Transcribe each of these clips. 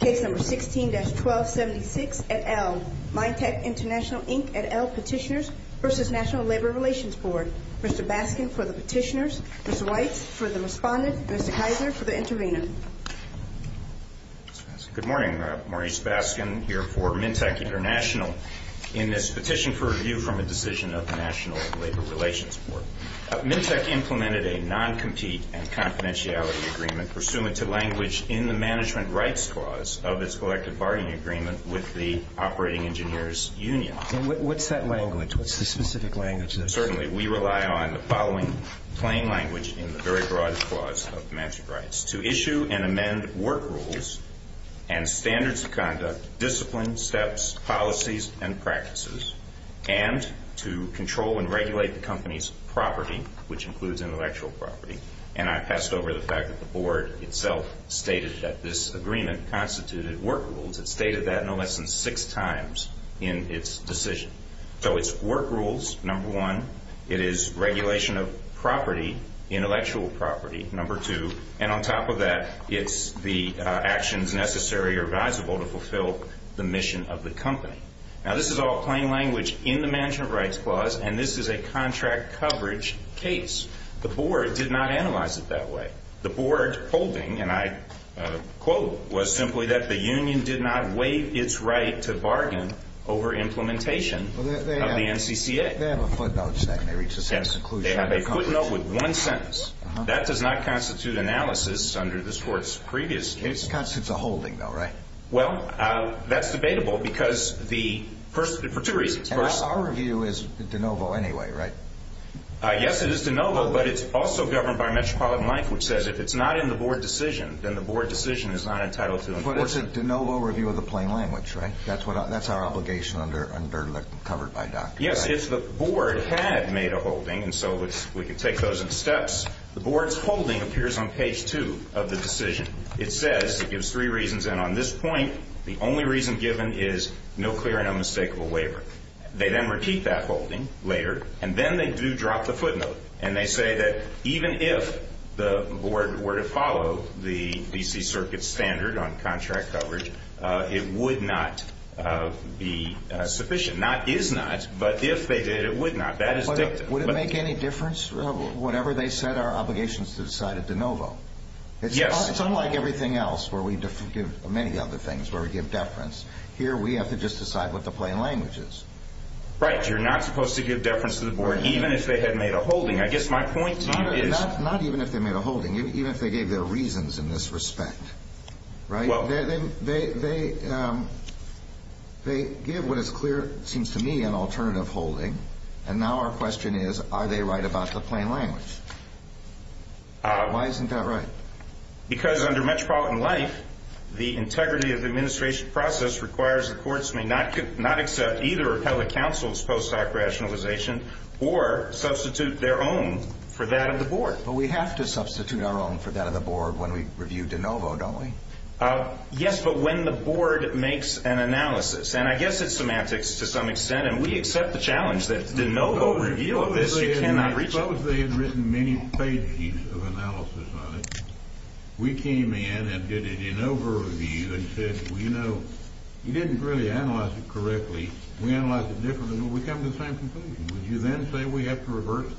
Case No. 16-1276, et al., Minteq International, Inc., et al., Petitioners v. National Labor Relations Board. Mr. Baskin for the Petitioners. Ms. Weitz for the Respondent. Mr. Kaiser for the Intervenor. Good morning. Maurice Baskin here for Minteq International in this petition for review from a decision of the National Labor Relations Board. Minteq implemented a non-compete and confidentiality agreement pursuant to language in the Management Rights Clause of its collective bargaining agreement with the Operating Engineers Union. What's that language? What's the specific language? which includes intellectual property, and I passed over the fact that the Board itself stated that this agreement constituted work rules. It stated that no less than six times in its decision. So it's work rules, number one. It is regulation of property, intellectual property, number two. And on top of that, it's the actions necessary or advisable to fulfill the mission of the company. Now, this is all plain language in the Management Rights Clause, and this is a contract coverage case. The Board did not analyze it that way. The Board holding, and I quote, was simply that the union did not waive its right to bargain over implementation of the NCCA. They have a footnote saying they reached a successful conclusion. They have a footnote with one sentence. That does not constitute analysis under this Court's previous case. It constitutes a holding, though, right? Well, that's debatable because the person, for two reasons. And our review is de novo anyway, right? Yes, it is de novo, but it's also governed by Metropolitan Life, which says if it's not in the Board decision, then the Board decision is not entitled to. But it's a de novo review of the plain language, right? That's our obligation under the covered by doctrine. Yes, if the Board had made a holding, and so we can take those in steps, the Board's holding appears on page two of the decision. It says, it gives three reasons, and on this point, the only reason given is no clear and unmistakable waiver. They then repeat that holding later, and then they do drop the footnote. And they say that even if the Board were to follow the D.C. Circuit's standard on contract coverage, it would not be sufficient. Not is not, but if they did, it would not. That is dicta. Would it make any difference, whatever they said, our obligations to decide a de novo? Yes. It's unlike everything else where we do many other things where we give deference. Here, we have to just decide what the plain language is. Right, you're not supposed to give deference to the Board, even if they had made a holding. I guess my point to you is- Not even if they made a holding, even if they gave their reasons in this respect, right? Well- They give what is clear, it seems to me, an alternative holding, and now our question is, are they right about the plain language? Why isn't that right? Because under metropolitan life, the integrity of the administration process requires that courts may not accept either appellate counsel's post hoc rationalization or substitute their own for that of the Board. But we have to substitute our own for that of the Board when we review de novo, don't we? Yes, but when the Board makes an analysis, and I guess it's semantics to some extent, and we accept the challenge that de novo review of this you cannot reach- Suppose they had written many pages of analysis on it. We came in and did a de novo review and said, well, you know, you didn't really analyze it correctly. We analyzed it differently, but we come to the same conclusion. Would you then say we have to reverse it?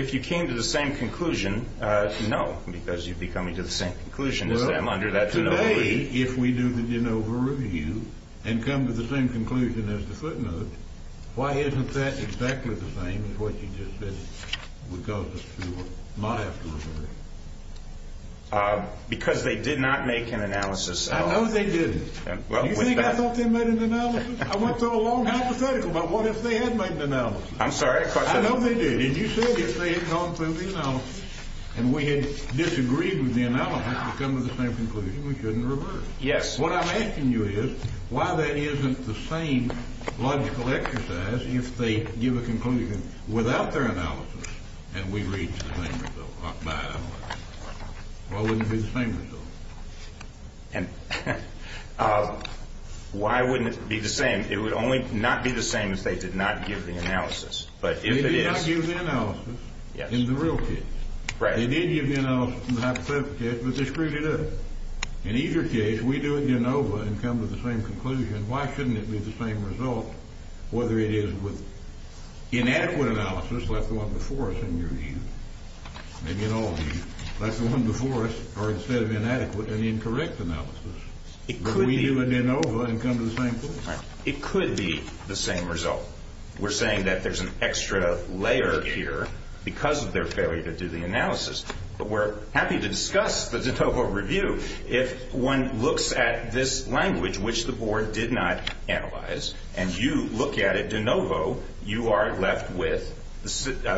If you came to the same conclusion, no, because you'd be coming to the same conclusion as them under that de novo review. If we do the de novo review and come to the same conclusion as the footnotes, why isn't that exactly the same as what you just said? Because they did not make an analysis. I know they didn't. You think I thought they made an analysis? I went through a long hypothetical about what if they had made an analysis. I'm sorry, I question that. I know they did. And you said if they had gone through the analysis and we had disagreed with the analysis to come to the same conclusion, we couldn't reverse it. Yes. What I'm asking you is why that isn't the same logical exercise if they give a conclusion without their analysis and we reach the same result by analysis? Why wouldn't it be the same result? Why wouldn't it be the same? It would only not be the same if they did not give the analysis. They did not give the analysis in the real case. They did give the analysis in the hypothetical case, but they screwed it up. In either case, we do a de novo and come to the same conclusion. Why shouldn't it be the same result whether it is with inadequate analysis, like the one before us in your review, maybe in all reviews, like the one before us, or instead of inadequate, an incorrect analysis? We do a de novo and come to the same conclusion. It could be the same result. We're saying that there's an extra layer here because of their failure to do the analysis, but we're happy to discuss the de novo review. If one looks at this language, which the board did not analyze, and you look at it de novo, you are left with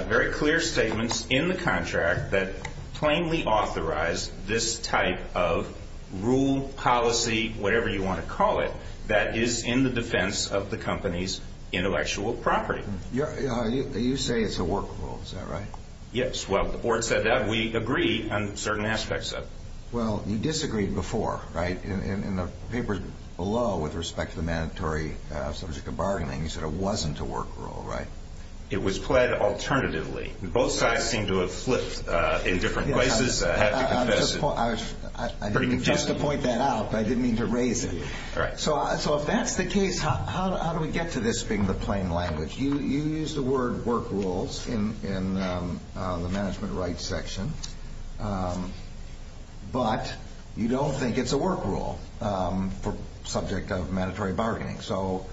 very clear statements in the contract that plainly authorize this type of rule, policy, whatever you want to call it, that is in the defense of the company's intellectual property. You say it's a work rule. Is that right? Yes. The board said that. We agree on certain aspects of it. Well, you disagreed before, right, in the papers below with respect to the mandatory subject of bargaining. You said it wasn't a work rule, right? It was pled alternatively. Both sides seem to have flipped in different places. I have to confess. I didn't mean just to point that out, but I didn't mean to raise it. All right. So if that's the case, how do we get to this being the plain language? You use the word work rules in the management rights section, but you don't think it's a work rule for subject of mandatory bargaining. So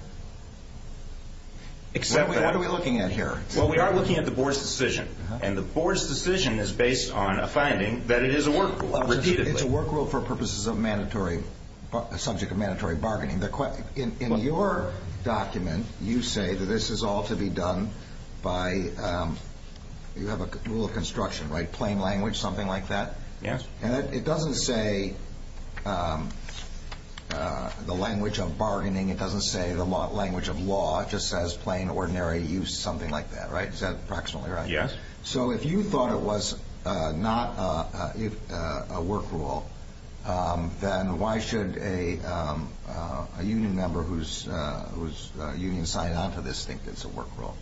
what are we looking at here? Well, we are looking at the board's decision, and the board's decision is based on a finding that it is a work rule, repeatedly. It's a work rule for purposes of mandatory, subject of mandatory bargaining. In your document, you say that this is all to be done by you have a rule of construction, right, plain language, something like that? Yes. And it doesn't say the language of bargaining. It doesn't say the language of law. It just says plain, ordinary use, something like that, right? Is that approximately right? Yes. So if you thought it was not a work rule, then why should a union member whose union signed on to this think it's a work rule?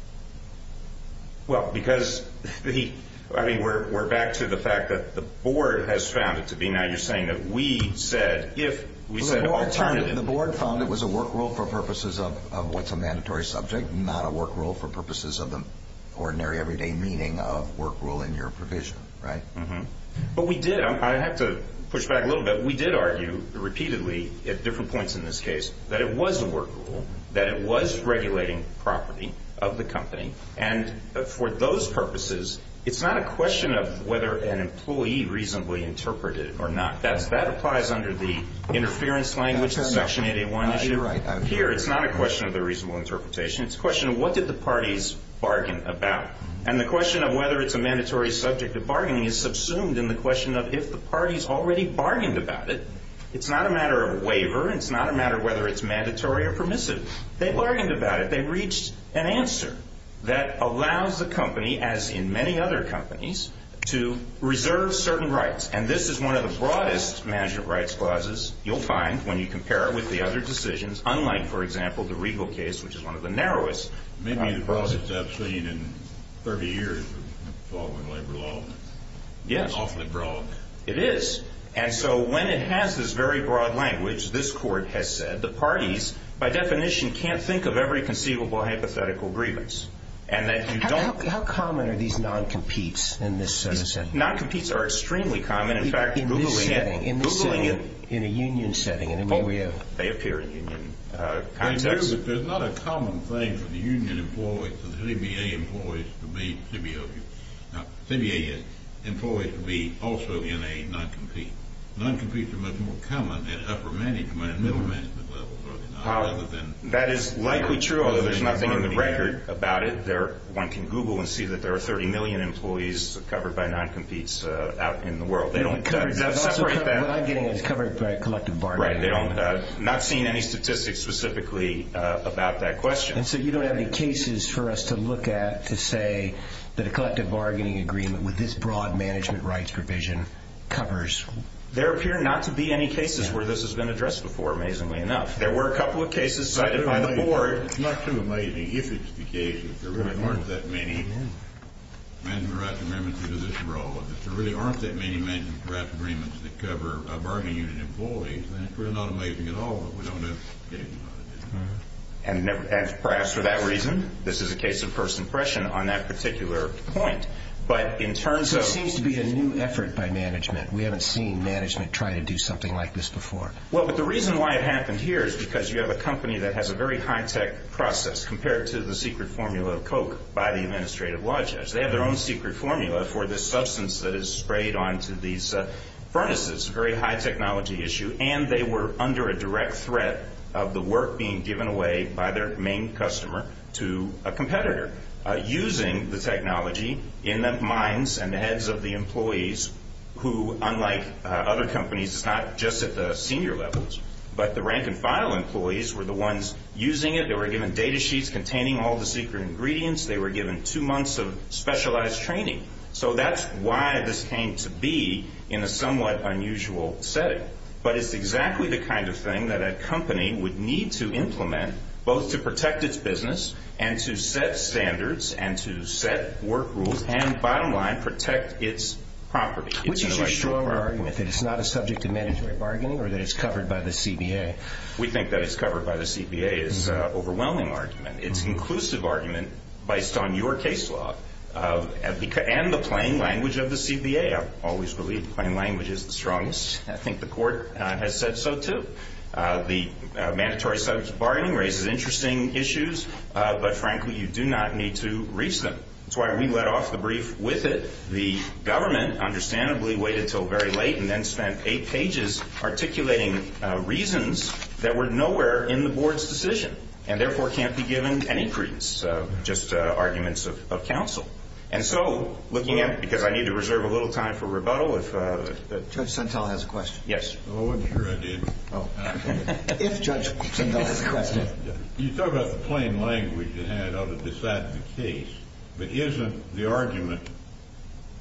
Well, because we're back to the fact that the board has found it to be. of work rule in your provision, right? But we did. I have to push back a little bit. We did argue repeatedly at different points in this case that it was a work rule, that it was regulating property of the company. And for those purposes, it's not a question of whether an employee reasonably interpreted it or not. That applies under the interference language, the Section 8A1 issue. Here, it's not a question of the reasonable interpretation. It's a question of what did the parties bargain about. And the question of whether it's a mandatory subject of bargaining is subsumed in the question of if the parties already bargained about it. It's not a matter of waiver. It's not a matter of whether it's mandatory or permissive. They bargained about it. They reached an answer that allows the company, as in many other companies, to reserve certain rights. And this is one of the broadest management rights clauses you'll find when you compare it with the other decisions, unlike, for example, the Regal case, which is one of the narrowest. Maybe the broadest I've seen in 30 years of following labor law. Yes. Awfully broad. It is. And so when it has this very broad language, this Court has said the parties, by definition, can't think of every conceivable hypothetical grievance. How common are these non-competes in this sense? Non-competes are extremely common. In fact, Googling it in a union setting, in an area, they appear in union contexts. There's not a common thing for the union employees, the CBA employees, to be CBO. Now, CBA employees can be also in a non-compete. Non-competes are much more common at upper management and middle management levels. That is likely true, although there's nothing in the record about it. One can Google and see that there are 30 million employees covered by non-competes out in the world. They don't separate them. What I'm getting is covered by a collective bargaining agreement. Right. They don't. I'm not seeing any statistics specifically about that question. And so you don't have any cases for us to look at to say that a collective bargaining agreement with this broad management rights provision covers? There appear not to be any cases where this has been addressed before, amazingly enough. There were a couple of cases cited by the Board. It's not too amazing if it's the case that there really aren't that many management rights agreements that do this role. If there really aren't that many management rights agreements that cover a bargaining unit employee, then it's really not amazing at all that we don't have cases on it. And perhaps for that reason, this is a case of first impression on that particular point. But in terms of— So it seems to be a new effort by management. We haven't seen management try to do something like this before. Well, but the reason why it happened here is because you have a company that has a very high-tech process compared to the secret formula of Coke by the administrative law judge. They have their own secret formula for this substance that is sprayed onto these furnaces, a very high-technology issue. And they were under a direct threat of the work being given away by their main customer to a competitor, using the technology in the minds and heads of the employees who, unlike other companies, is not just at the senior levels. But the rank-and-file employees were the ones using it. They were given data sheets containing all the secret ingredients. They were given two months of specialized training. So that's why this came to be in a somewhat unusual setting. But it's exactly the kind of thing that a company would need to implement both to protect its business and to set standards and to set work rules and, bottom line, protect its property. Which is a stronger argument, that it's not a subject of mandatory bargaining or that it's covered by the CBA? We think that it's covered by the CBA. It's an overwhelming argument. It's an inclusive argument based on your case law and the plain language of the CBA. I've always believed plain language is the strongest. I think the court has said so, too. The mandatory subject of bargaining raises interesting issues. But, frankly, you do not need to reach them. That's why we let off the brief with it. The government, understandably, waited until very late and then spent eight pages articulating reasons that were nowhere in the board's decision and, therefore, can't be given any credence, just arguments of counsel. And so, looking at it, because I need to reserve a little time for rebuttal, if... Judge Sentelle has a question. Yes. I wasn't sure I did. If Judge Sentelle has a question. You talk about the plain language you had on a decisive case. But isn't the argument,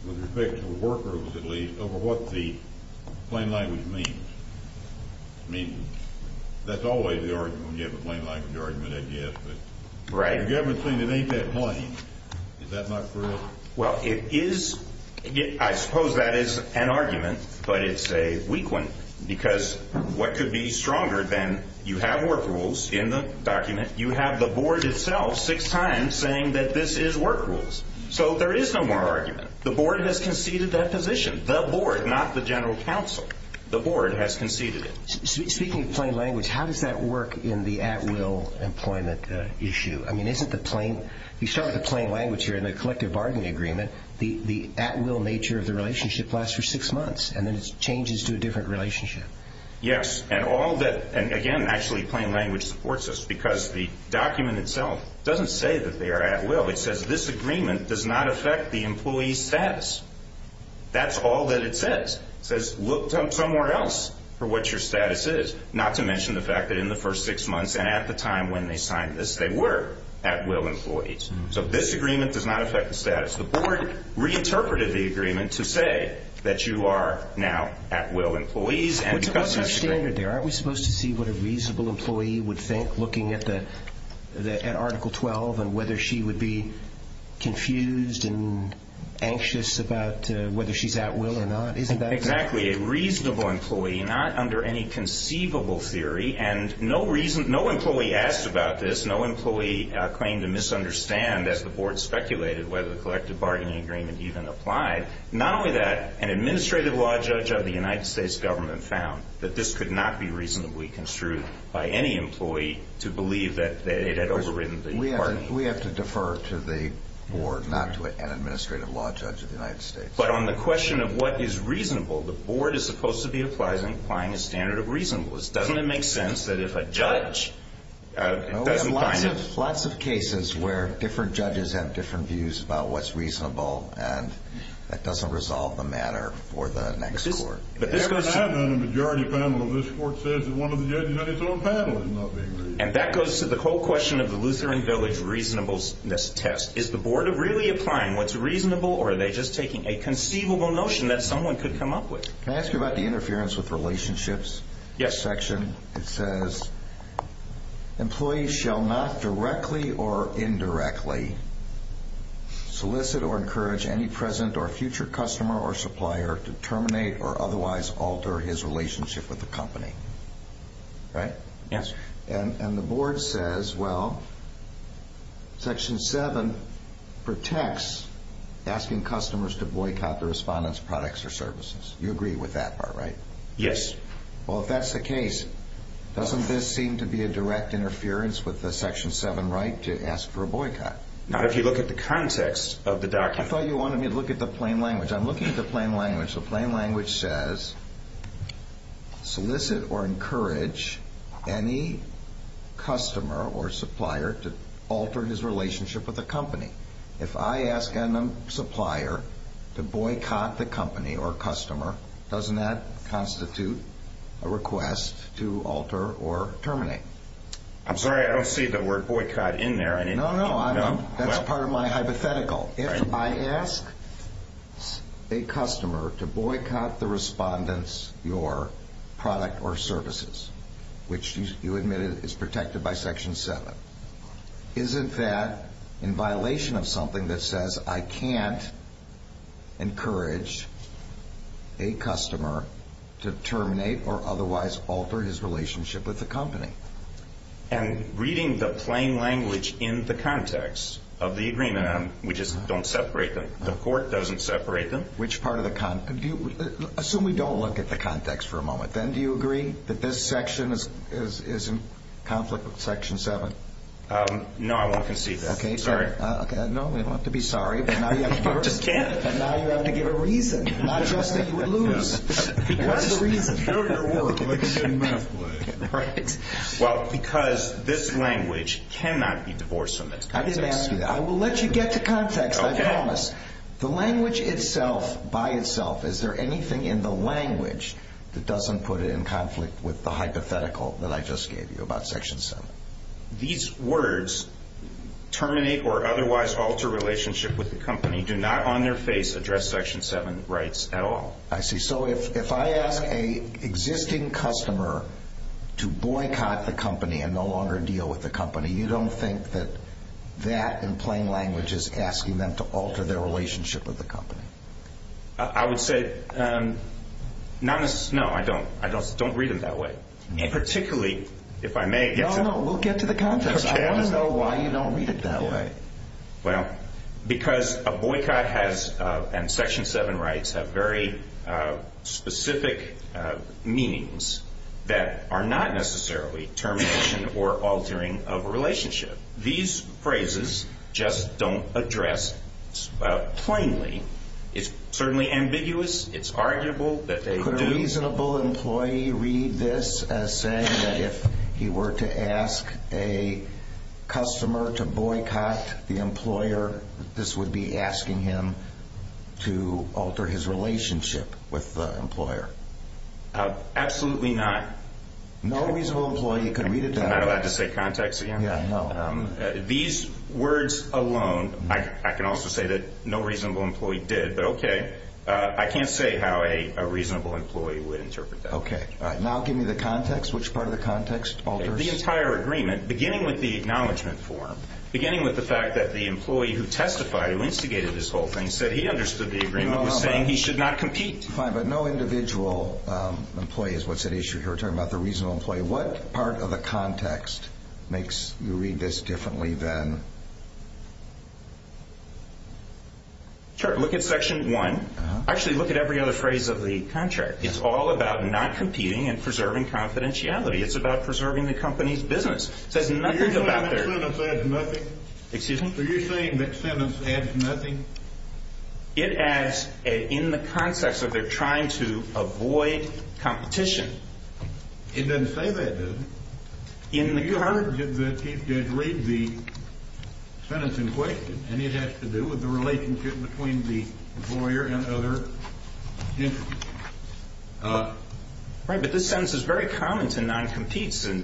with respect to work rules at least, over what the plain language means? I mean, that's always the argument when you have a plain language argument, I guess. Right. The government's saying it ain't that plain. Is that not correct? Well, it is. I suppose that is an argument, but it's a weak one because what could be stronger than you have work rules in the document? You have the board itself six times saying that this is work rules. So there is no more argument. The board has conceded that position. The board, not the general counsel. The board has conceded it. Speaking of plain language, how does that work in the at-will employment issue? I mean, you start with the plain language here in the collective bargaining agreement. The at-will nature of the relationship lasts for six months, and then it changes to a different relationship. Yes. And, again, actually plain language supports this because the document itself doesn't say that they are at-will. It says this agreement does not affect the employee's status. That's all that it says. It says look somewhere else for what your status is, not to mention the fact that in the first six months and at the time when they signed this, they were. At-will employees. So this agreement does not affect the status. The board reinterpreted the agreement to say that you are now at-will employees. What's your standard there? Aren't we supposed to see what a reasonable employee would think looking at Article 12 and whether she would be confused and anxious about whether she's at-will or not? Isn't that? Exactly. A reasonable employee, not under any conceivable theory, and no employee asked about this. No employee claimed to misunderstand, as the board speculated, whether the collective bargaining agreement even applied. Not only that, an administrative law judge of the United States government found that this could not be reasonably construed by any employee to believe that it had overridden the bargaining. We have to defer to the board, not to an administrative law judge of the United States. But on the question of what is reasonable, the board is supposed to be applying a standard of reasonableness. Doesn't it make sense that if a judge doesn't find it? Lots of cases where different judges have different views about what's reasonable, and that doesn't resolve the matter for the next court. The majority panel of this court says that one of the judges on his own panel is not being reasonable. And that goes to the whole question of the Lutheran Village reasonableness test. Is the board really applying what's reasonable, or are they just taking a conceivable notion that someone could come up with? Can I ask you about the interference with relationships section? Yes. It says, employees shall not directly or indirectly solicit or encourage any present or future customer or supplier to terminate or otherwise alter his relationship with the company. Right? Yes. And the board says, well, section 7 protects asking customers to boycott the respondent's products or services. You agree with that part, right? Yes. Well, if that's the case, doesn't this seem to be a direct interference with the section 7 right to ask for a boycott? Not if you look at the context of the document. I thought you wanted me to look at the plain language. I'm looking at the plain language. So plain language says, solicit or encourage any customer or supplier to alter his relationship with the company. If I ask a supplier to boycott the company or customer, doesn't that constitute a request to alter or terminate? I'm sorry. I don't see the word boycott in there. No, no. That's part of my hypothetical. If I ask a customer to boycott the respondent's, your product or services, which you admitted is protected by section 7, isn't that in violation of something that says I can't encourage a customer to terminate or otherwise alter his relationship with the company? And reading the plain language in the context of the agreement, we just don't separate them. The court doesn't separate them. Assume we don't look at the context for a moment. Then do you agree that this section is in conflict with section 7? No, I won't concede that. Okay. Sorry. No, we don't have to be sorry. I'm just kidding. What's the reason? Well, because this language cannot be divorced from its context. I didn't ask you that. I will let you get to context. I promise. The language itself, by itself, is there anything in the language that doesn't put it in conflict with the hypothetical that I just gave you about section 7? These words, terminate or otherwise alter relationship with the company, do not on their face address section 7 rights at all. I see. So if I ask an existing customer to boycott the company and no longer deal with the company, you don't think that that, in plain language, is asking them to alter their relationship with the company? I would say not necessarily. No, I don't. I don't read it that way, particularly if I may get to the context. No, no. We'll get to the context. I want to know why you don't read it that way. Well, because a boycott and section 7 rights have very specific meanings that are not necessarily termination or altering of a relationship. These phrases just don't address plainly. It's certainly ambiguous. It's arguable that they do. Would a reasonable employee read this as saying that if he were to ask a customer to boycott the employer, this would be asking him to alter his relationship with the employer? Absolutely not. No reasonable employee could read it that way. Am I allowed to say context again? Yeah, no. These words alone, I can also say that no reasonable employee did, but, okay, I can't say how a reasonable employee would interpret that. Okay. Now give me the context, which part of the context alters. The entire agreement, beginning with the acknowledgment form, beginning with the fact that the employee who testified, who instigated this whole thing, said he understood the agreement, was saying he should not compete. Fine, but no individual employee is what's at issue here. We're talking about the reasonable employee. Okay, what part of the context makes you read this differently then? Sure, look at Section 1. Actually, look at every other phrase of the contract. It's all about not competing and preserving confidentiality. It's about preserving the company's business. It says nothing about their- Are you saying that sentence adds nothing? Excuse me? Are you saying that sentence adds nothing? It adds in the context that they're trying to avoid competition. It doesn't say that, does it? You heard the Chief Judge read the sentence in question, and it has to do with the relationship between the employer and other entities. Right, but this sentence is very common to non-competes. That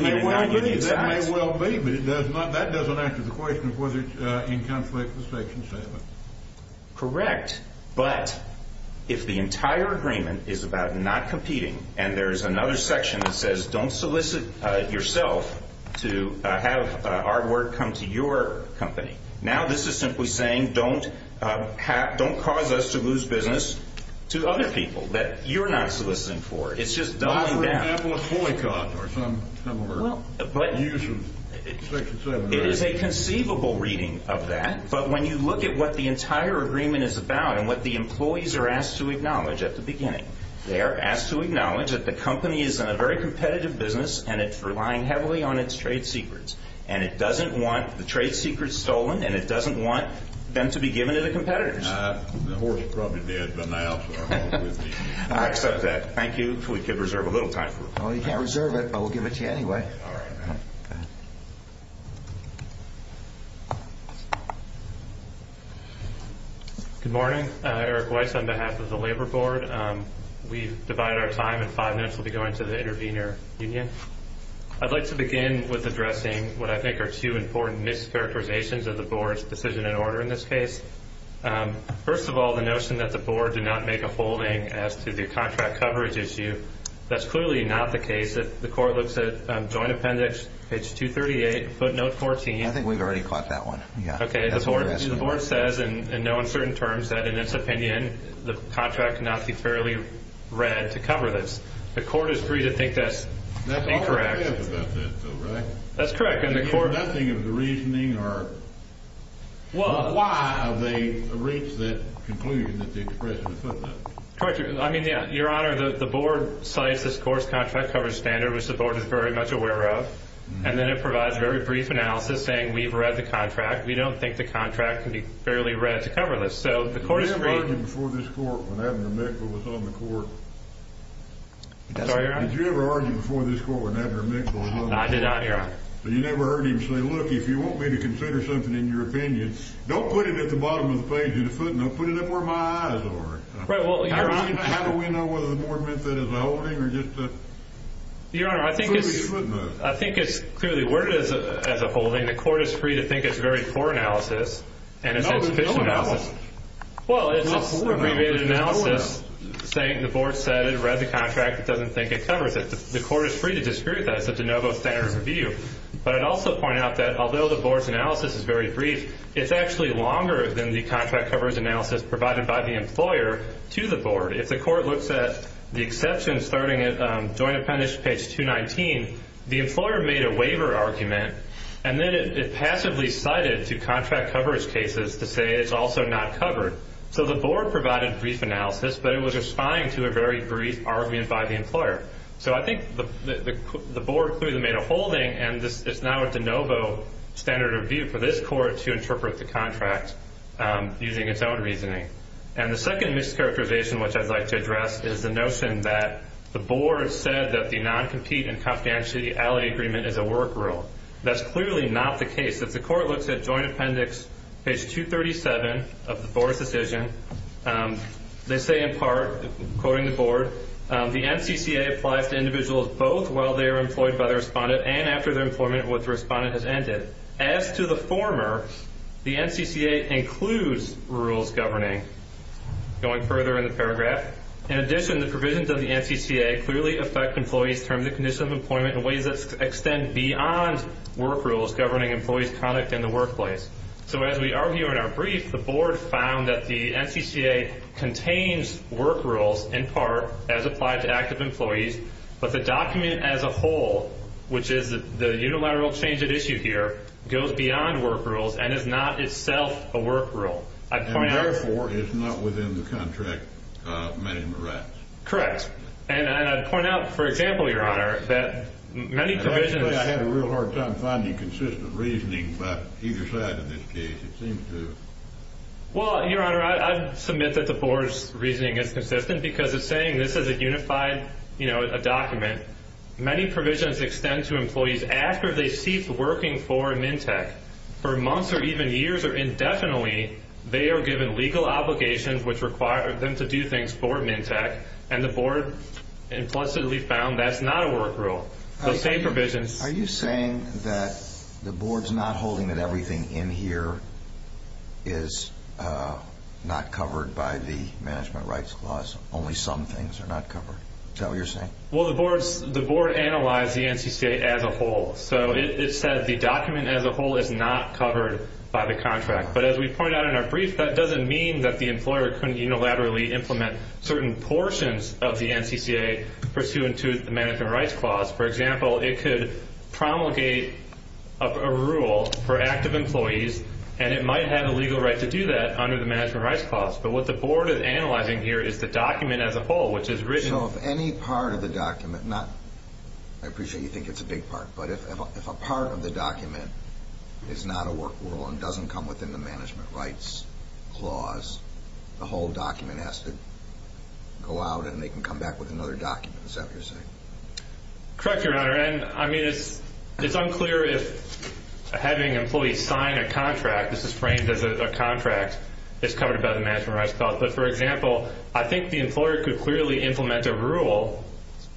may well be, but that doesn't answer the question of whether it's in conflict with Section 7. Correct, but if the entire agreement is about not competing, and there's another section that says don't solicit yourself to have hard work come to your company, now this is simply saying don't cause us to lose business to other people that you're not soliciting for. It's just doubling down. For example, a boycott or some similar use of Section 7. It is a conceivable reading of that, but when you look at what the entire agreement is about and what the employees are asked to acknowledge at the beginning, they are asked to acknowledge that the company is in a very competitive business, and it's relying heavily on its trade secrets, and it doesn't want the trade secrets stolen, and it doesn't want them to be given to the competitors. The horse is probably dead by now, sir. I accept that. Thank you. We could reserve a little time for it. You can't reserve it, but we'll give it to you anyway. Good morning. Eric Weiss on behalf of the Labor Board. We divide our time in five minutes. We'll be going to the intervener union. I'd like to begin with addressing what I think are two important mischaracterizations of the Board's decision and order in this case. First of all, the notion that the Board did not make a holding as to the contract coverage issue. That's clearly not the case. The Court looks at Joint Appendix, page 238, footnote 14. I think we've already caught that one. Okay. The Board says in no uncertain terms that in its opinion the contract cannot be fairly read to cover this. The Court is free to think that's incorrect. That's all there is about that, though, right? That's correct. Your Honor, the Board cites this Court's contract coverage standard, which the Board is very much aware of, and then it provides a very brief analysis saying we've read the contract. We don't think the contract can be fairly read to cover this. Did you ever argue before this Court when Abner Mickle was on the Court? I'm sorry, Your Honor? Did you ever argue before this Court when Abner Mickle was on the Court? I did not, Your Honor. So you never heard him say, look, if you want me to consider something in your opinion, don't put it at the bottom of the page in the footnote. Put it up where my eyes are. Right, well, Your Honor. How do we know whether the Board meant that as a holding or just a footnote? Your Honor, I think it's clearly worded as a holding. The Court is free to think it's very poor analysis and it's insufficient analysis. It's not poor analysis. Well, it's an abbreviated analysis saying the Board said it read the contract. It doesn't think it covers it. The Court is free to dispute that. It's a de novo standard of review. But I'd also point out that although the Board's analysis is very brief, it's actually longer than the contract coverage analysis provided by the employer to the Board. If the Court looks at the exception starting at Joint Appendix page 219, the employer made a waiver argument and then it passively cited two contract coverage cases to say it's also not covered. So the Board provided brief analysis, but it was responding to a very brief argument by the employer. So I think the Board clearly made a holding, and it's now a de novo standard of review for this Court to interpret the contract using its own reasoning. And the second mischaracterization, which I'd like to address, is the notion that the Board said that the non-compete and confidentiality agreement is a work rule. That's clearly not the case. If the Court looks at Joint Appendix page 237 of the Board's decision, they say in part, quoting the Board, the NCCA applies to individuals both while they are employed by the respondent and after their employment with the respondent has ended. As to the former, the NCCA includes rules governing. Going further in the paragraph, in addition, the provisions of the NCCA clearly affect employees' terms and conditions of employment in ways that extend beyond work rules governing employees' conduct in the workplace. So as we argue in our brief, the Board found that the NCCA contains work rules in part as applied to active employees, but the document as a whole, which is the unilateral change at issue here, goes beyond work rules and is not itself a work rule. And therefore, it's not within the contract management rights. Correct. And I'd point out, for example, Your Honor, that many provisions... Well, Your Honor, I'd submit that the Board's reasoning is consistent because it's saying this is a unified document. Many provisions extend to employees after they cease working for MNTEC. For months or even years or indefinitely, they are given legal obligations which require them to do things for MNTEC, and the Board implicitly found that's not a work rule. Those same provisions... Are you saying that the Board's not holding that everything in here is not covered by the management rights clause? Only some things are not covered? Is that what you're saying? Well, the Board analyzed the NCCA as a whole. So it said the document as a whole is not covered by the contract. But as we point out in our brief, that doesn't mean that the employer couldn't unilaterally implement certain portions of the NCCA pursuant to the management rights clause. For example, it could promulgate a rule for active employees, and it might have a legal right to do that under the management rights clause. But what the Board is analyzing here is the document as a whole, which is written... So if any part of the document, not... I appreciate you think it's a big part, but if a part of the document is not a work rule and doesn't come within the management rights clause, the whole document has to go out and they can come back with another document. Is that what you're saying? Correct, Your Honor. And, I mean, it's unclear if having employees sign a contract... This is framed as a contract. It's covered by the management rights clause. But, for example, I think the employer could clearly implement a rule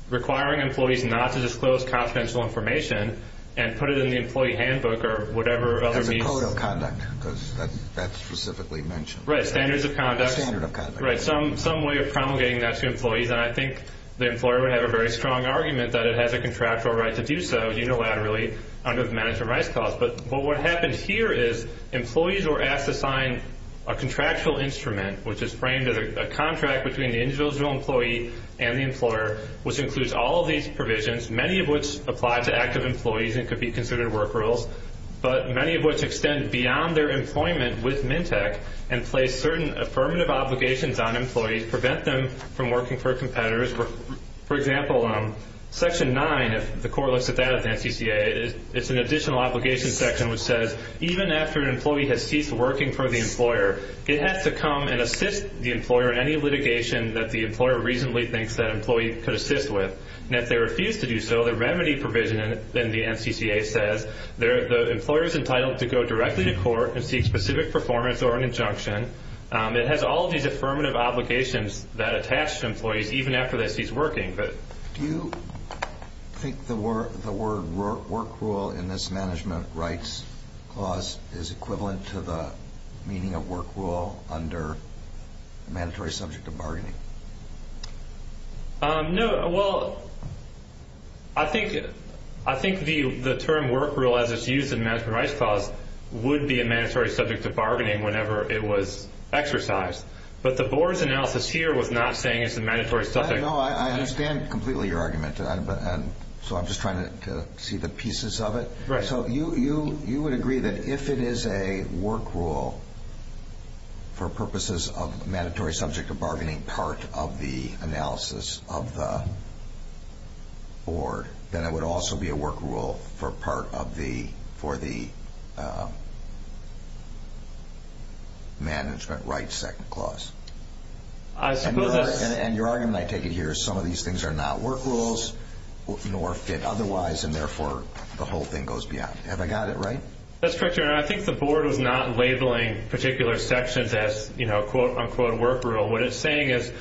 requiring employees not to disclose confidential information and put it in the employee handbook or whatever other means... As a code of conduct, because that's specifically mentioned. Right, standards of conduct. A standard of conduct. Right, some way of promulgating that to employees. And I think the employer would have a very strong argument that it has a contractual right to do so unilaterally under the management rights clause. But what happens here is employees were asked to sign a contractual instrument, which is framed as a contract between the individual employee and the employer, which includes all of these provisions, many of which apply to active employees and could be considered work rules, but many of which extend beyond their employment with MNTEC and place certain affirmative obligations on employees, prevent them from working for competitors. For example, Section 9, if the court looks at that at the NCCA, it's an additional obligation section which says even after an employee has ceased working for the employer, it has to come and assist the employer in any litigation that the employer reasonably thinks that employee could assist with. And if they refuse to do so, the remedy provision in the NCCA says the employer is entitled to go directly to court and seek specific performance or an injunction. It has all of these affirmative obligations that attach to employees even after they cease working. Do you think the word work rule in this management rights clause is equivalent to the meaning of work rule under a mandatory subject of bargaining? No. Well, I think the term work rule as it's used in the management rights clause would be a mandatory subject of bargaining whenever it was exercised. But the board's analysis here was not saying it's a mandatory subject. No, I understand completely your argument. So I'm just trying to see the pieces of it. Right. So you would agree that if it is a work rule for purposes of mandatory subject of bargaining part of the analysis of the board, then it would also be a work rule for part of the management rights second clause. And your argument, I take it here, is some of these things are not work rules nor fit otherwise, and therefore the whole thing goes beyond. Have I got it right? That's correct, Your Honor. I think the board was not labeling particular sections as, quote, unquote, work rule. What it's saying is,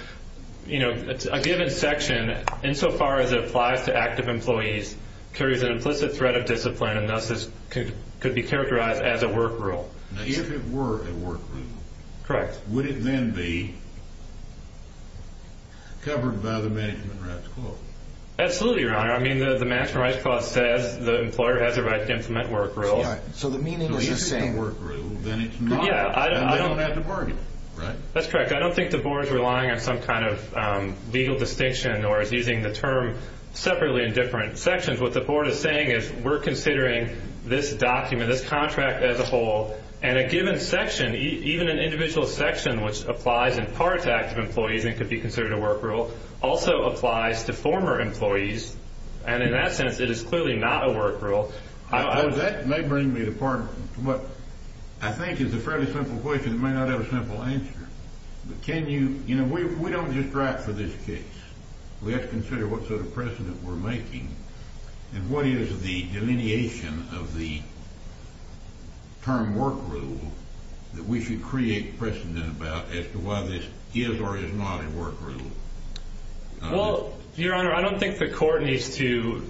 you know, a given section, insofar as it applies to active employees, carries an implicit threat of discipline, and thus could be characterized as a work rule. Now, if it were a work rule, would it then be covered by the management rights clause? Absolutely, Your Honor. I mean, the management rights clause says the employer has a right to implement work rules. So the meaning is the same. So if it's a work rule, then it's not. I don't have to bargain, right? That's correct. I don't think the board is relying on some kind of legal distinction or is using the term separately in different sections. What the board is saying is we're considering this document, this contract as a whole, and a given section, even an individual section, which applies in part to active employees and could be considered a work rule, also applies to former employees. And in that sense, it is clearly not a work rule. That may bring me to part of what I think is a fairly simple question that may not have a simple answer. But can you, you know, we don't just write for this case. We have to consider what sort of precedent we're making and what is the delineation of the term work rule that we should create precedent about as to why this is or is not a work rule. Well, Your Honor, I don't think the court needs to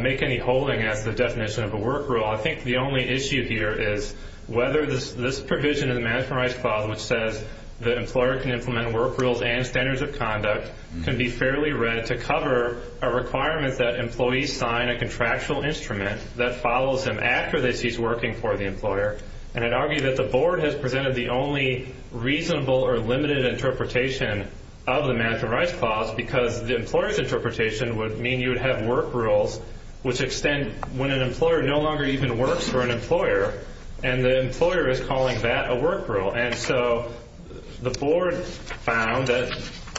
make any holding as to the definition of a work rule. I think the only issue here is whether this provision in the Management Rights Clause which says the employer can implement work rules and standards of conduct can be fairly read to cover a requirement that employees sign a contractual instrument that follows them after they cease working for the employer. And I'd argue that the board has presented the only reasonable or limited interpretation of the Management Rights Clause because the employer's interpretation would mean you would have work rules which extend when an employer no longer even works for an employer and the employer is calling that a work rule. And so the board found that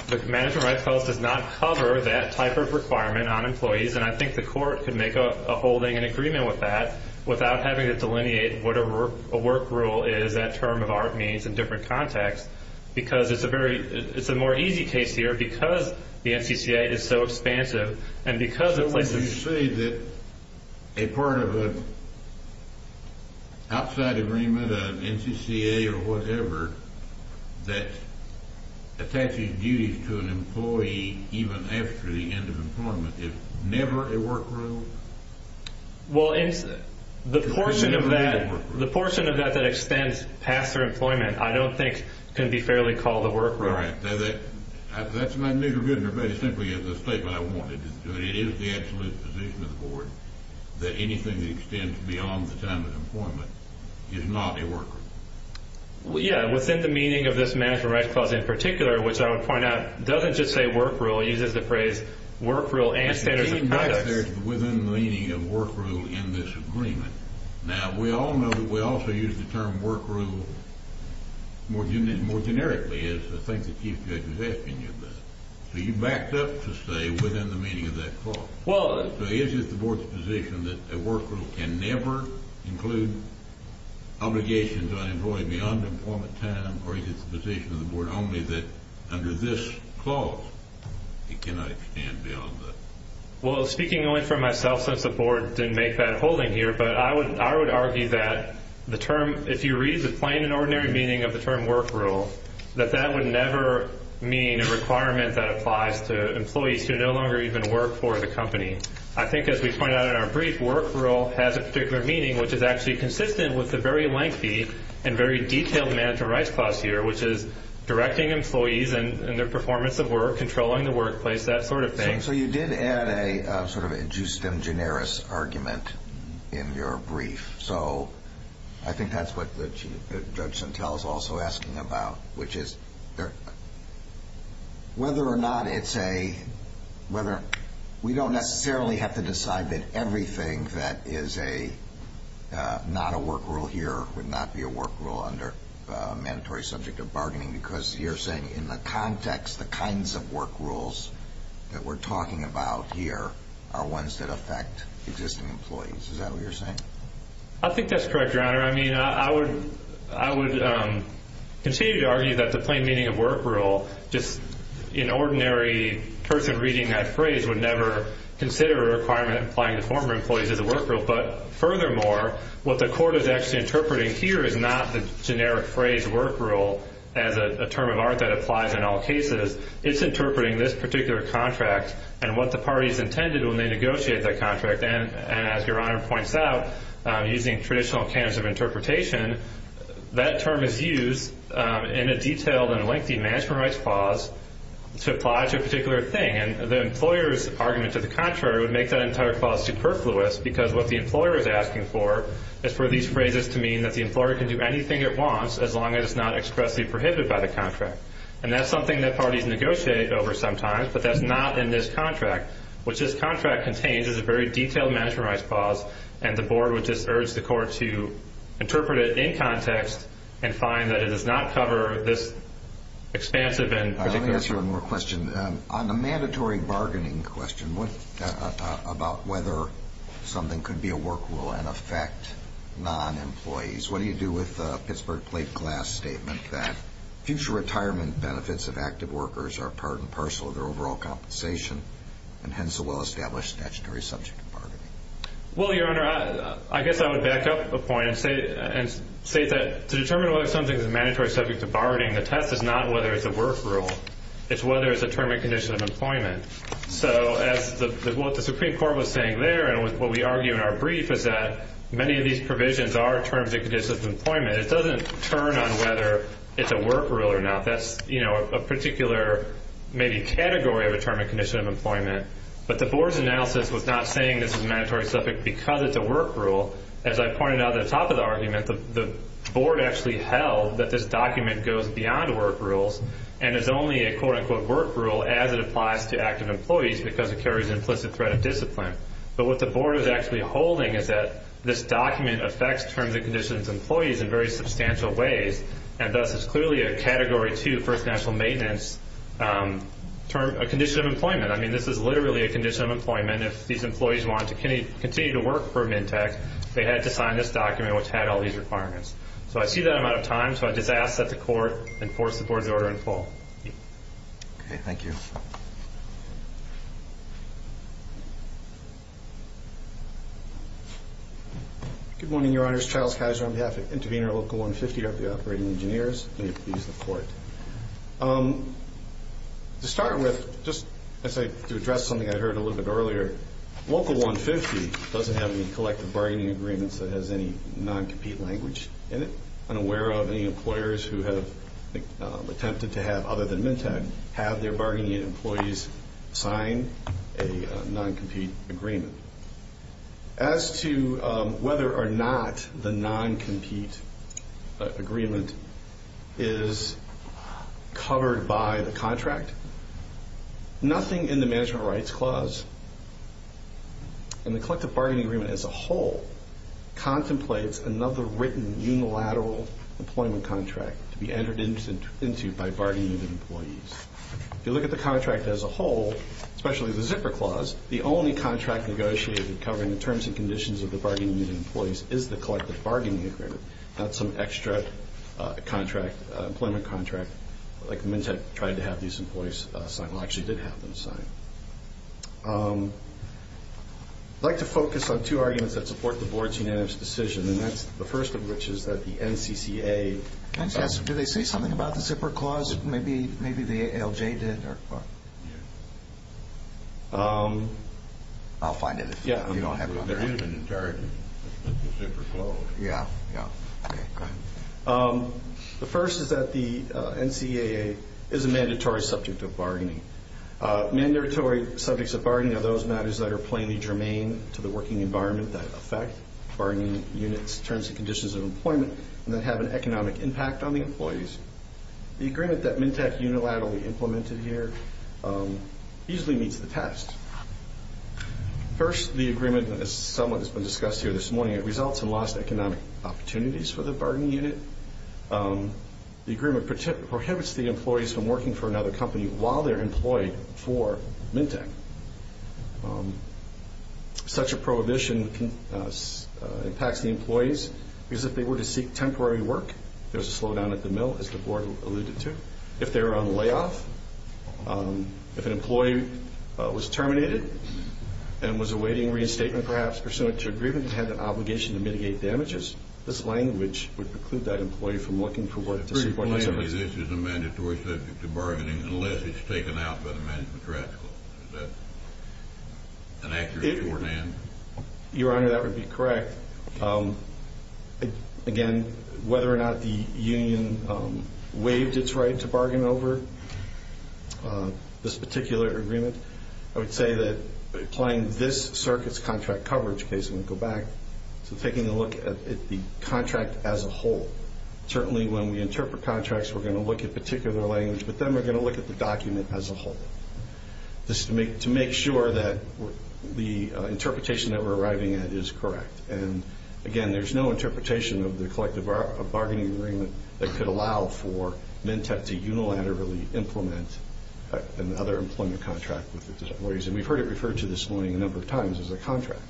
the Management Rights Clause does not cover that type of requirement on employees and I think the court can make a holding in agreement with that without having to delineate what a work rule is, that term of art means in different contexts because it's a more easy case here because the NCCA is so expansive You say that a part of an outside agreement, an NCCA or whatever that attaches duties to an employee even after the end of employment is never a work rule? Well, the portion of that that extends past their employment I don't think can be fairly called a work rule. That's not neither good nor bad, it's simply the statement I wanted. It is the absolute position of the board that anything that extends beyond the time of employment is not a work rule. Yeah, within the meaning of this Management Rights Clause in particular which I would point out doesn't just say work rule, it uses the phrase work rule and standards of conduct. Even that's within the meaning of work rule in this agreement. Now, we all know that we also use the term work rule more generically as the thing the Chief Judge was asking you about. So you backed up to say within the meaning of that clause. So is it the board's position that a work rule can never include obligations on an employee beyond employment time or is it the position of the board only that under this clause it cannot extend beyond that? Well, speaking only for myself since the board didn't make that holding here but I would argue that the term, if you read the plain and ordinary meaning of the term work rule, that that would never mean a requirement that applies to employees who no longer even work for the company. I think as we pointed out in our brief, work rule has a particular meaning which is actually consistent with the very lengthy and very detailed Management Rights Clause here which is directing employees in their performance of work, controlling the workplace, that sort of thing. So you did add a sort of a justem generis argument in your brief. So I think that's what the Chief Judge Santel is also asking about which is whether or not it's a—we don't necessarily have to decide that everything that is not a work rule here would not be a work rule under a mandatory subject of bargaining because you're saying in the context the kinds of work rules that we're talking about here are ones that affect existing employees. Is that what you're saying? I think that's correct, Your Honor. I mean, I would continue to argue that the plain meaning of work rule, just an ordinary person reading that phrase, would never consider a requirement applying to former employees as a work rule. But furthermore, what the Court is actually interpreting here is not the generic phrase work rule as a term of art that applies in all cases. It's interpreting this particular contract and what the parties intended when they negotiated that contract. And as Your Honor points out, using traditional cans of interpretation, that term is used in a detailed and lengthy management rights clause to apply to a particular thing. And the employer's argument to the contrary would make that entire clause superfluous because what the employer is asking for is for these phrases to mean that the employer can do anything it wants as long as it's not expressly prohibited by the contract. And that's something that parties negotiate over sometimes, but that's not in this contract. What this contract contains is a very detailed management rights clause, and the Board would just urge the Court to interpret it in context and find that it does not cover this expansive and particular issue. Let me ask you one more question. On the mandatory bargaining question about whether something could be a work rule and affect non-employees, what do you do with the Pittsburgh Plate Glass statement that future retirement benefits of active workers are part and parcel of their overall compensation and hence a well-established statutory subject to bargaining? Well, Your Honor, I guess I would back up a point and say that to determine whether something is a mandatory subject to bargaining, the test is not whether it's a work rule. It's whether it's a term and condition of employment. So what the Supreme Court was saying there and what we argue in our brief is that many of these provisions are terms and conditions of employment. It doesn't turn on whether it's a work rule or not. That's a particular maybe category of a term and condition of employment. But the Board's analysis was not saying this is a mandatory subject because it's a work rule. As I pointed out at the top of the argument, the Board actually held that this document goes beyond work rules and is only a quote-unquote work rule as it applies to active employees because it carries implicit threat of discipline. But what the Board is actually holding is that this document affects terms and conditions of employees in very substantial ways and thus is clearly a Category 2 First National Maintenance term or condition of employment. I mean, this is literally a condition of employment. If these employees wanted to continue to work for Mintec, they had to sign this document, which had all these requirements. So I see that I'm out of time, so I just ask that the Court enforce the Board's order in full. Okay, thank you. Good morning, Your Honors. Charles Kaiser on behalf of Intervenor Local 150, our operating engineers. May it please the Court. To start with, just to address something I heard a little bit earlier, Local 150 doesn't have any collective bargaining agreements that has any non-compete language in it, unaware of any employers who have attempted to have, other than Mintec, have their bargaining employees sign a non-compete agreement. As to whether or not the non-compete agreement is covered by the contract, nothing in the Management Rights Clause and the collective bargaining agreement as a whole contemplates another written unilateral employment contract to be entered into by bargaining employees. If you look at the contract as a whole, especially the Zipper Clause, the only contract negotiated covering the terms and conditions of the bargaining meeting employees is the collective bargaining agreement, not some extra employment contract like Mintec tried to have these employees sign, or actually did have them sign. I'd like to focus on two arguments that support the Board's unanimous decision, and that's the first of which is that the NCCA Do they say something about the Zipper Clause? Maybe the ALJ did, or what? I'll find it if you don't have it on there. Yeah, they're in it in entirety, the Zipper Clause. Yeah, yeah. Okay, go ahead. The first is that the NCCA is a mandatory subject of bargaining. Mandatory subjects of bargaining are those matters that are plainly germane to the working environment that affect bargaining units' terms and conditions of employment and that have an economic impact on the employees. The agreement that Mintec unilaterally implemented here easily meets the test. First, the agreement, as somewhat has been discussed here this morning, it results in lost economic opportunities for the bargaining unit. The agreement prohibits the employees from working for another company while they're employed for Mintec. Such a prohibition impacts the employees because if they were to seek temporary work, there's a slowdown at the mill, as the Board alluded to. If they're on layoff, if an employee was terminated and was awaiting reinstatement perhaps pursuant to agreement and had an obligation to mitigate damages, this language would preclude that employee from looking for work to support themselves. So basically this is a mandatory subject of bargaining unless it's taken out by the Management Tracts Clause. Is that an accurate word, Dan? Your Honor, that would be correct. Again, whether or not the union waived its right to bargain over this particular agreement, I would say that applying this circuit's contract coverage case, when we go back to taking a look at the contract as a whole, certainly when we interpret contracts we're going to look at particular language, but then we're going to look at the document as a whole to make sure that the interpretation that we're arriving at is correct. Again, there's no interpretation of the collective bargaining agreement that could allow for Mintec to unilaterally implement another employment contract with the employees. We've heard it referred to this morning a number of times as a contract.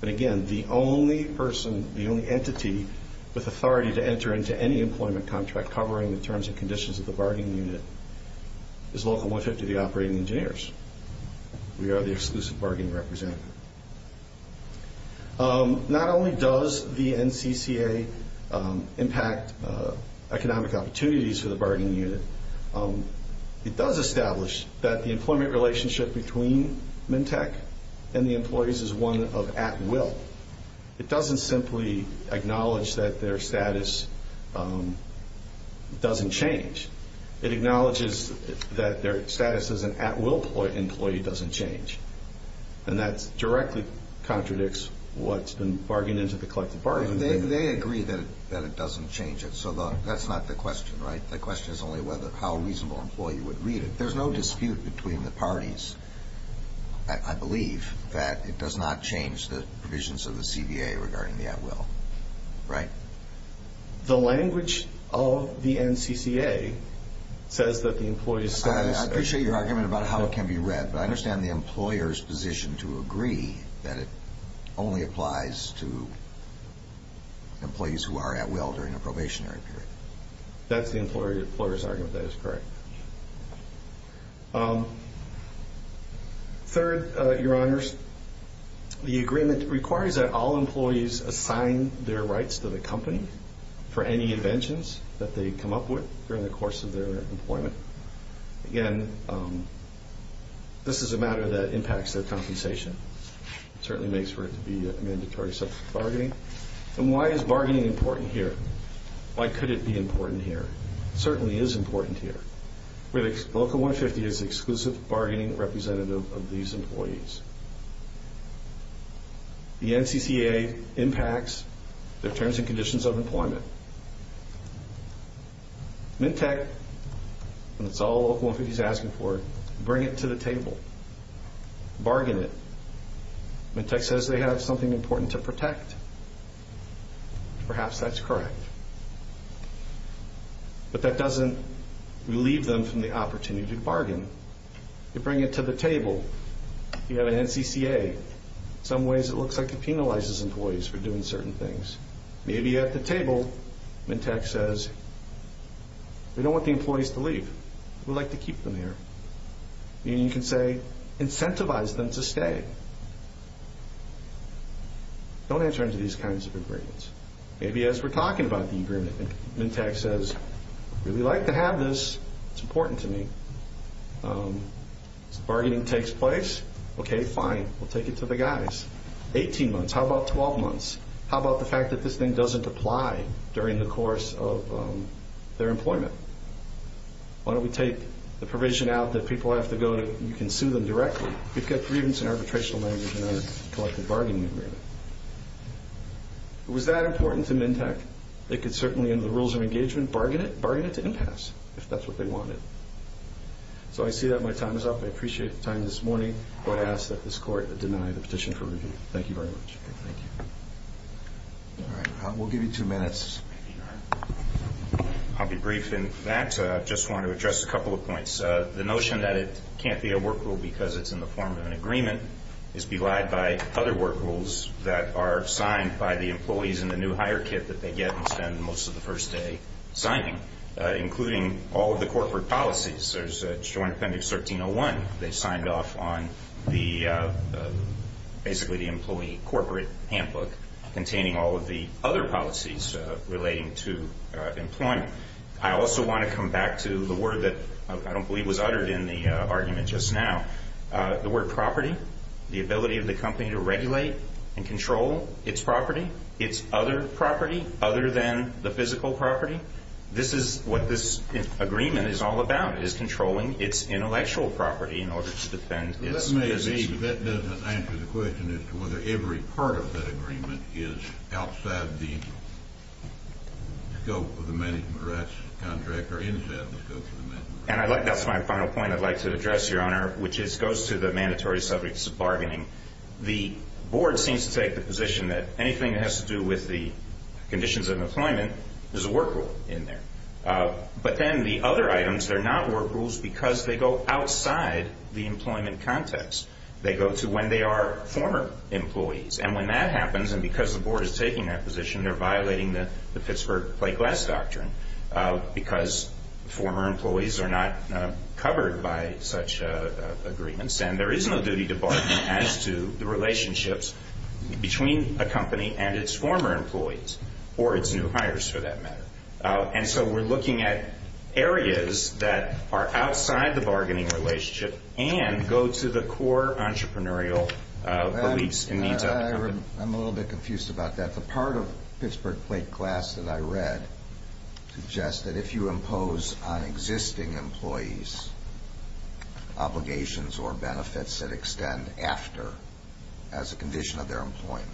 But again, the only entity with authority to enter into any employment contract covering the terms and conditions of the bargaining unit is Local 150, the operating engineers. We are the exclusive bargaining representative. Not only does the NCCA impact economic opportunities for the bargaining unit, it does establish that the employment relationship between Mintec and the employees is one of at-will. It doesn't simply acknowledge that their status doesn't change. It acknowledges that their status as an at-will employee doesn't change, and that directly contradicts what's been bargained into the collective bargaining agreement. They agree that it doesn't change it, so that's not the question, right? The question is only how a reasonable employee would read it. There's no dispute between the parties, I believe, that it does not change the provisions of the CBA regarding the at-will, right? The language of the NCCA says that the employees' status... I appreciate your argument about how it can be read, but I understand the employer's position to agree that it only applies to employees who are at-will during a probationary period. That's the employer's argument. That is correct. Third, Your Honors, the agreement requires that all employees assign their rights to the company for any inventions that they come up with during the course of their employment. Again, this is a matter that impacts their compensation. It certainly makes for it to be a mandatory subject of bargaining. And why is bargaining important here? Why could it be important here? It certainly is important here. Local 150 is the exclusive bargaining representative of these employees. The NCCA impacts their terms and conditions of employment. Mintec, and it's all Local 150 is asking for, bring it to the table. Bargain it. Mintec says they have something important to protect. Perhaps that's correct. But that doesn't relieve them from the opportunity to bargain. You bring it to the table. You have an NCCA. In some ways, it looks like it penalizes employees for doing certain things. Maybe at the table, Mintec says, we don't want the employees to leave. We'd like to keep them here. You can say, incentivize them to stay. Don't enter into these kinds of agreements. Maybe as we're talking about the agreement, Mintec says, I'd really like to have this. It's important to me. So bargaining takes place. Okay, fine. We'll take it to the guys. 18 months. How about 12 months? How about the fact that this thing doesn't apply during the course of their employment? Why don't we take the provision out that people have to go to? You can sue them directly. We've got grievance and arbitration language in our collective bargaining agreement. Was that important to Mintec? They could certainly, under the rules of engagement, bargain it to impasse if that's what they wanted. So I see that my time is up. I appreciate the time this morning. I ask that this Court deny the petition for review. Thank you very much. Thank you. All right. We'll give you two minutes. I'll be brief. In fact, I just want to address a couple of points. The notion that it can't be a work rule because it's in the form of an agreement is belied by other work rules that are signed by the employees in the new hire kit that they get and spend most of the first day signing, including all of the corporate policies. There's Joint Appendix 1301. They signed off on basically the employee corporate handbook containing all of the other policies relating to employment. I also want to come back to the word that I don't believe was uttered in the argument just now, the word property, the ability of the company to regulate and control its property, its other property other than the physical property. This is what this agreement is all about, is controlling its intellectual property in order to defend its business. That may be, but that doesn't answer the question as to whether every part of that agreement is outside the scope of the management rights contract or inside the scope of the management rights contract. And that's my final point I'd like to address, Your Honor, which goes to the mandatory subjects of bargaining. The board seems to take the position that anything that has to do with the conditions of employment is a work rule in there. But then the other items, they're not work rules because they go outside the employment context. They go to when they are former employees. And when that happens, and because the board is taking that position, they're violating the Pittsburgh Play Glass Doctrine because former employees are not covered by such agreements. And there is no duty to bargain as to the relationships between a company and its former employees or its new hires for that matter. And so we're looking at areas that are outside the bargaining relationship and go to the core entrepreneurial beliefs and needs of the company. I'm a little bit confused about that. The part of Pittsburgh Play Glass that I read suggests that if you impose on existing employees obligations or benefits that extend after as a condition of their employment,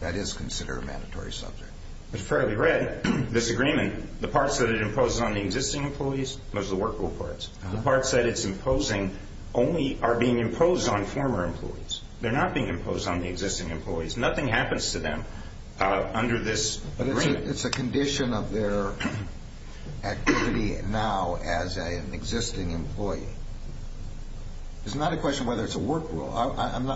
that is considered a mandatory subject. It's fairly red, this agreement. The parts that it imposes on the existing employees, those are the work rule parts. The parts that it's imposing only are being imposed on former employees. They're not being imposed on the existing employees. Nothing happens to them under this agreement. But it's a condition of their activity now as an existing employee. It's not a question whether it's a work rule.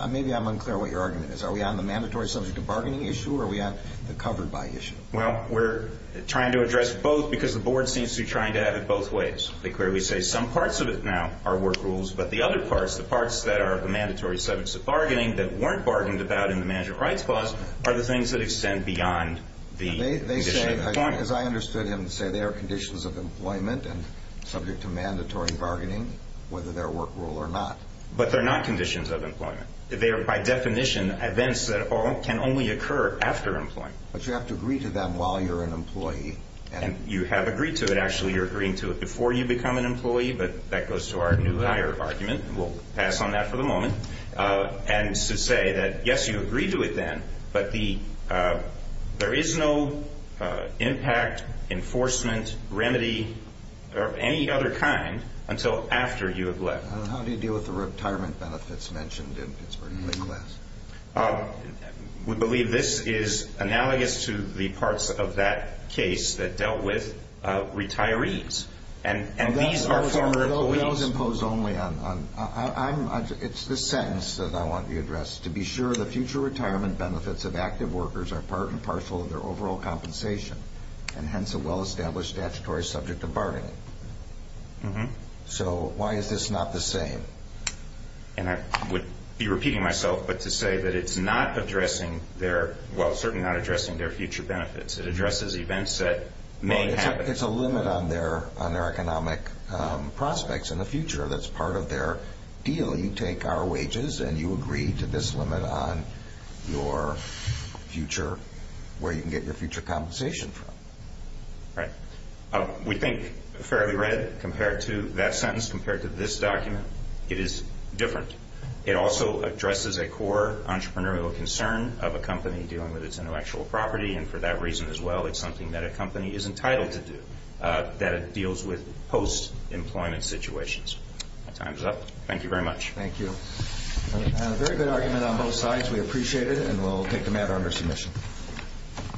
Maybe I'm unclear what your argument is. Are we on the mandatory subject of bargaining issue or are we on the covered by issue? Well, we're trying to address both because the board seems to be trying to have it both ways. They clearly say some parts of it now are work rules, but the other parts, the parts that are the mandatory subjects of bargaining that weren't bargained about in the Management Rights Clause are the things that extend beyond the condition of employment. As I understood him to say, they are conditions of employment and subject to mandatory bargaining, whether they're work rule or not. But they're not conditions of employment. They are by definition events that can only occur after employment. But you have to agree to them while you're an employee. You have agreed to it, actually. You're agreeing to it before you become an employee, but that goes to our new higher argument. We'll pass on that for the moment. And to say that, yes, you agree to it then, but there is no impact, enforcement, remedy, or any other kind until after you have left. How do you deal with the retirement benefits mentioned in Pittsburgh Claim Class? We believe this is analogous to the parts of that case that dealt with retirees. Those imposed only on – it's the sentence that I want to address. To be sure the future retirement benefits of active workers are part and parcel of their overall compensation and hence a well-established statutory subject to bargaining. So why is this not the same? And I would be repeating myself, but to say that it's not addressing their – well, certainly not addressing their future benefits. It addresses events that may happen. But it's a limit on their economic prospects in the future. That's part of their deal. You take our wages and you agree to this limit on your future, where you can get your future compensation from. Right. We think fairly read compared to that sentence, compared to this document. It is different. It also addresses a core entrepreneurial concern of a company dealing with its intellectual property, and for that reason as well it's something that a company is entitled to do, that it deals with post-employment situations. My time is up. Thank you very much. Thank you. A very good argument on both sides. We appreciate it, and we'll take the matter under submission.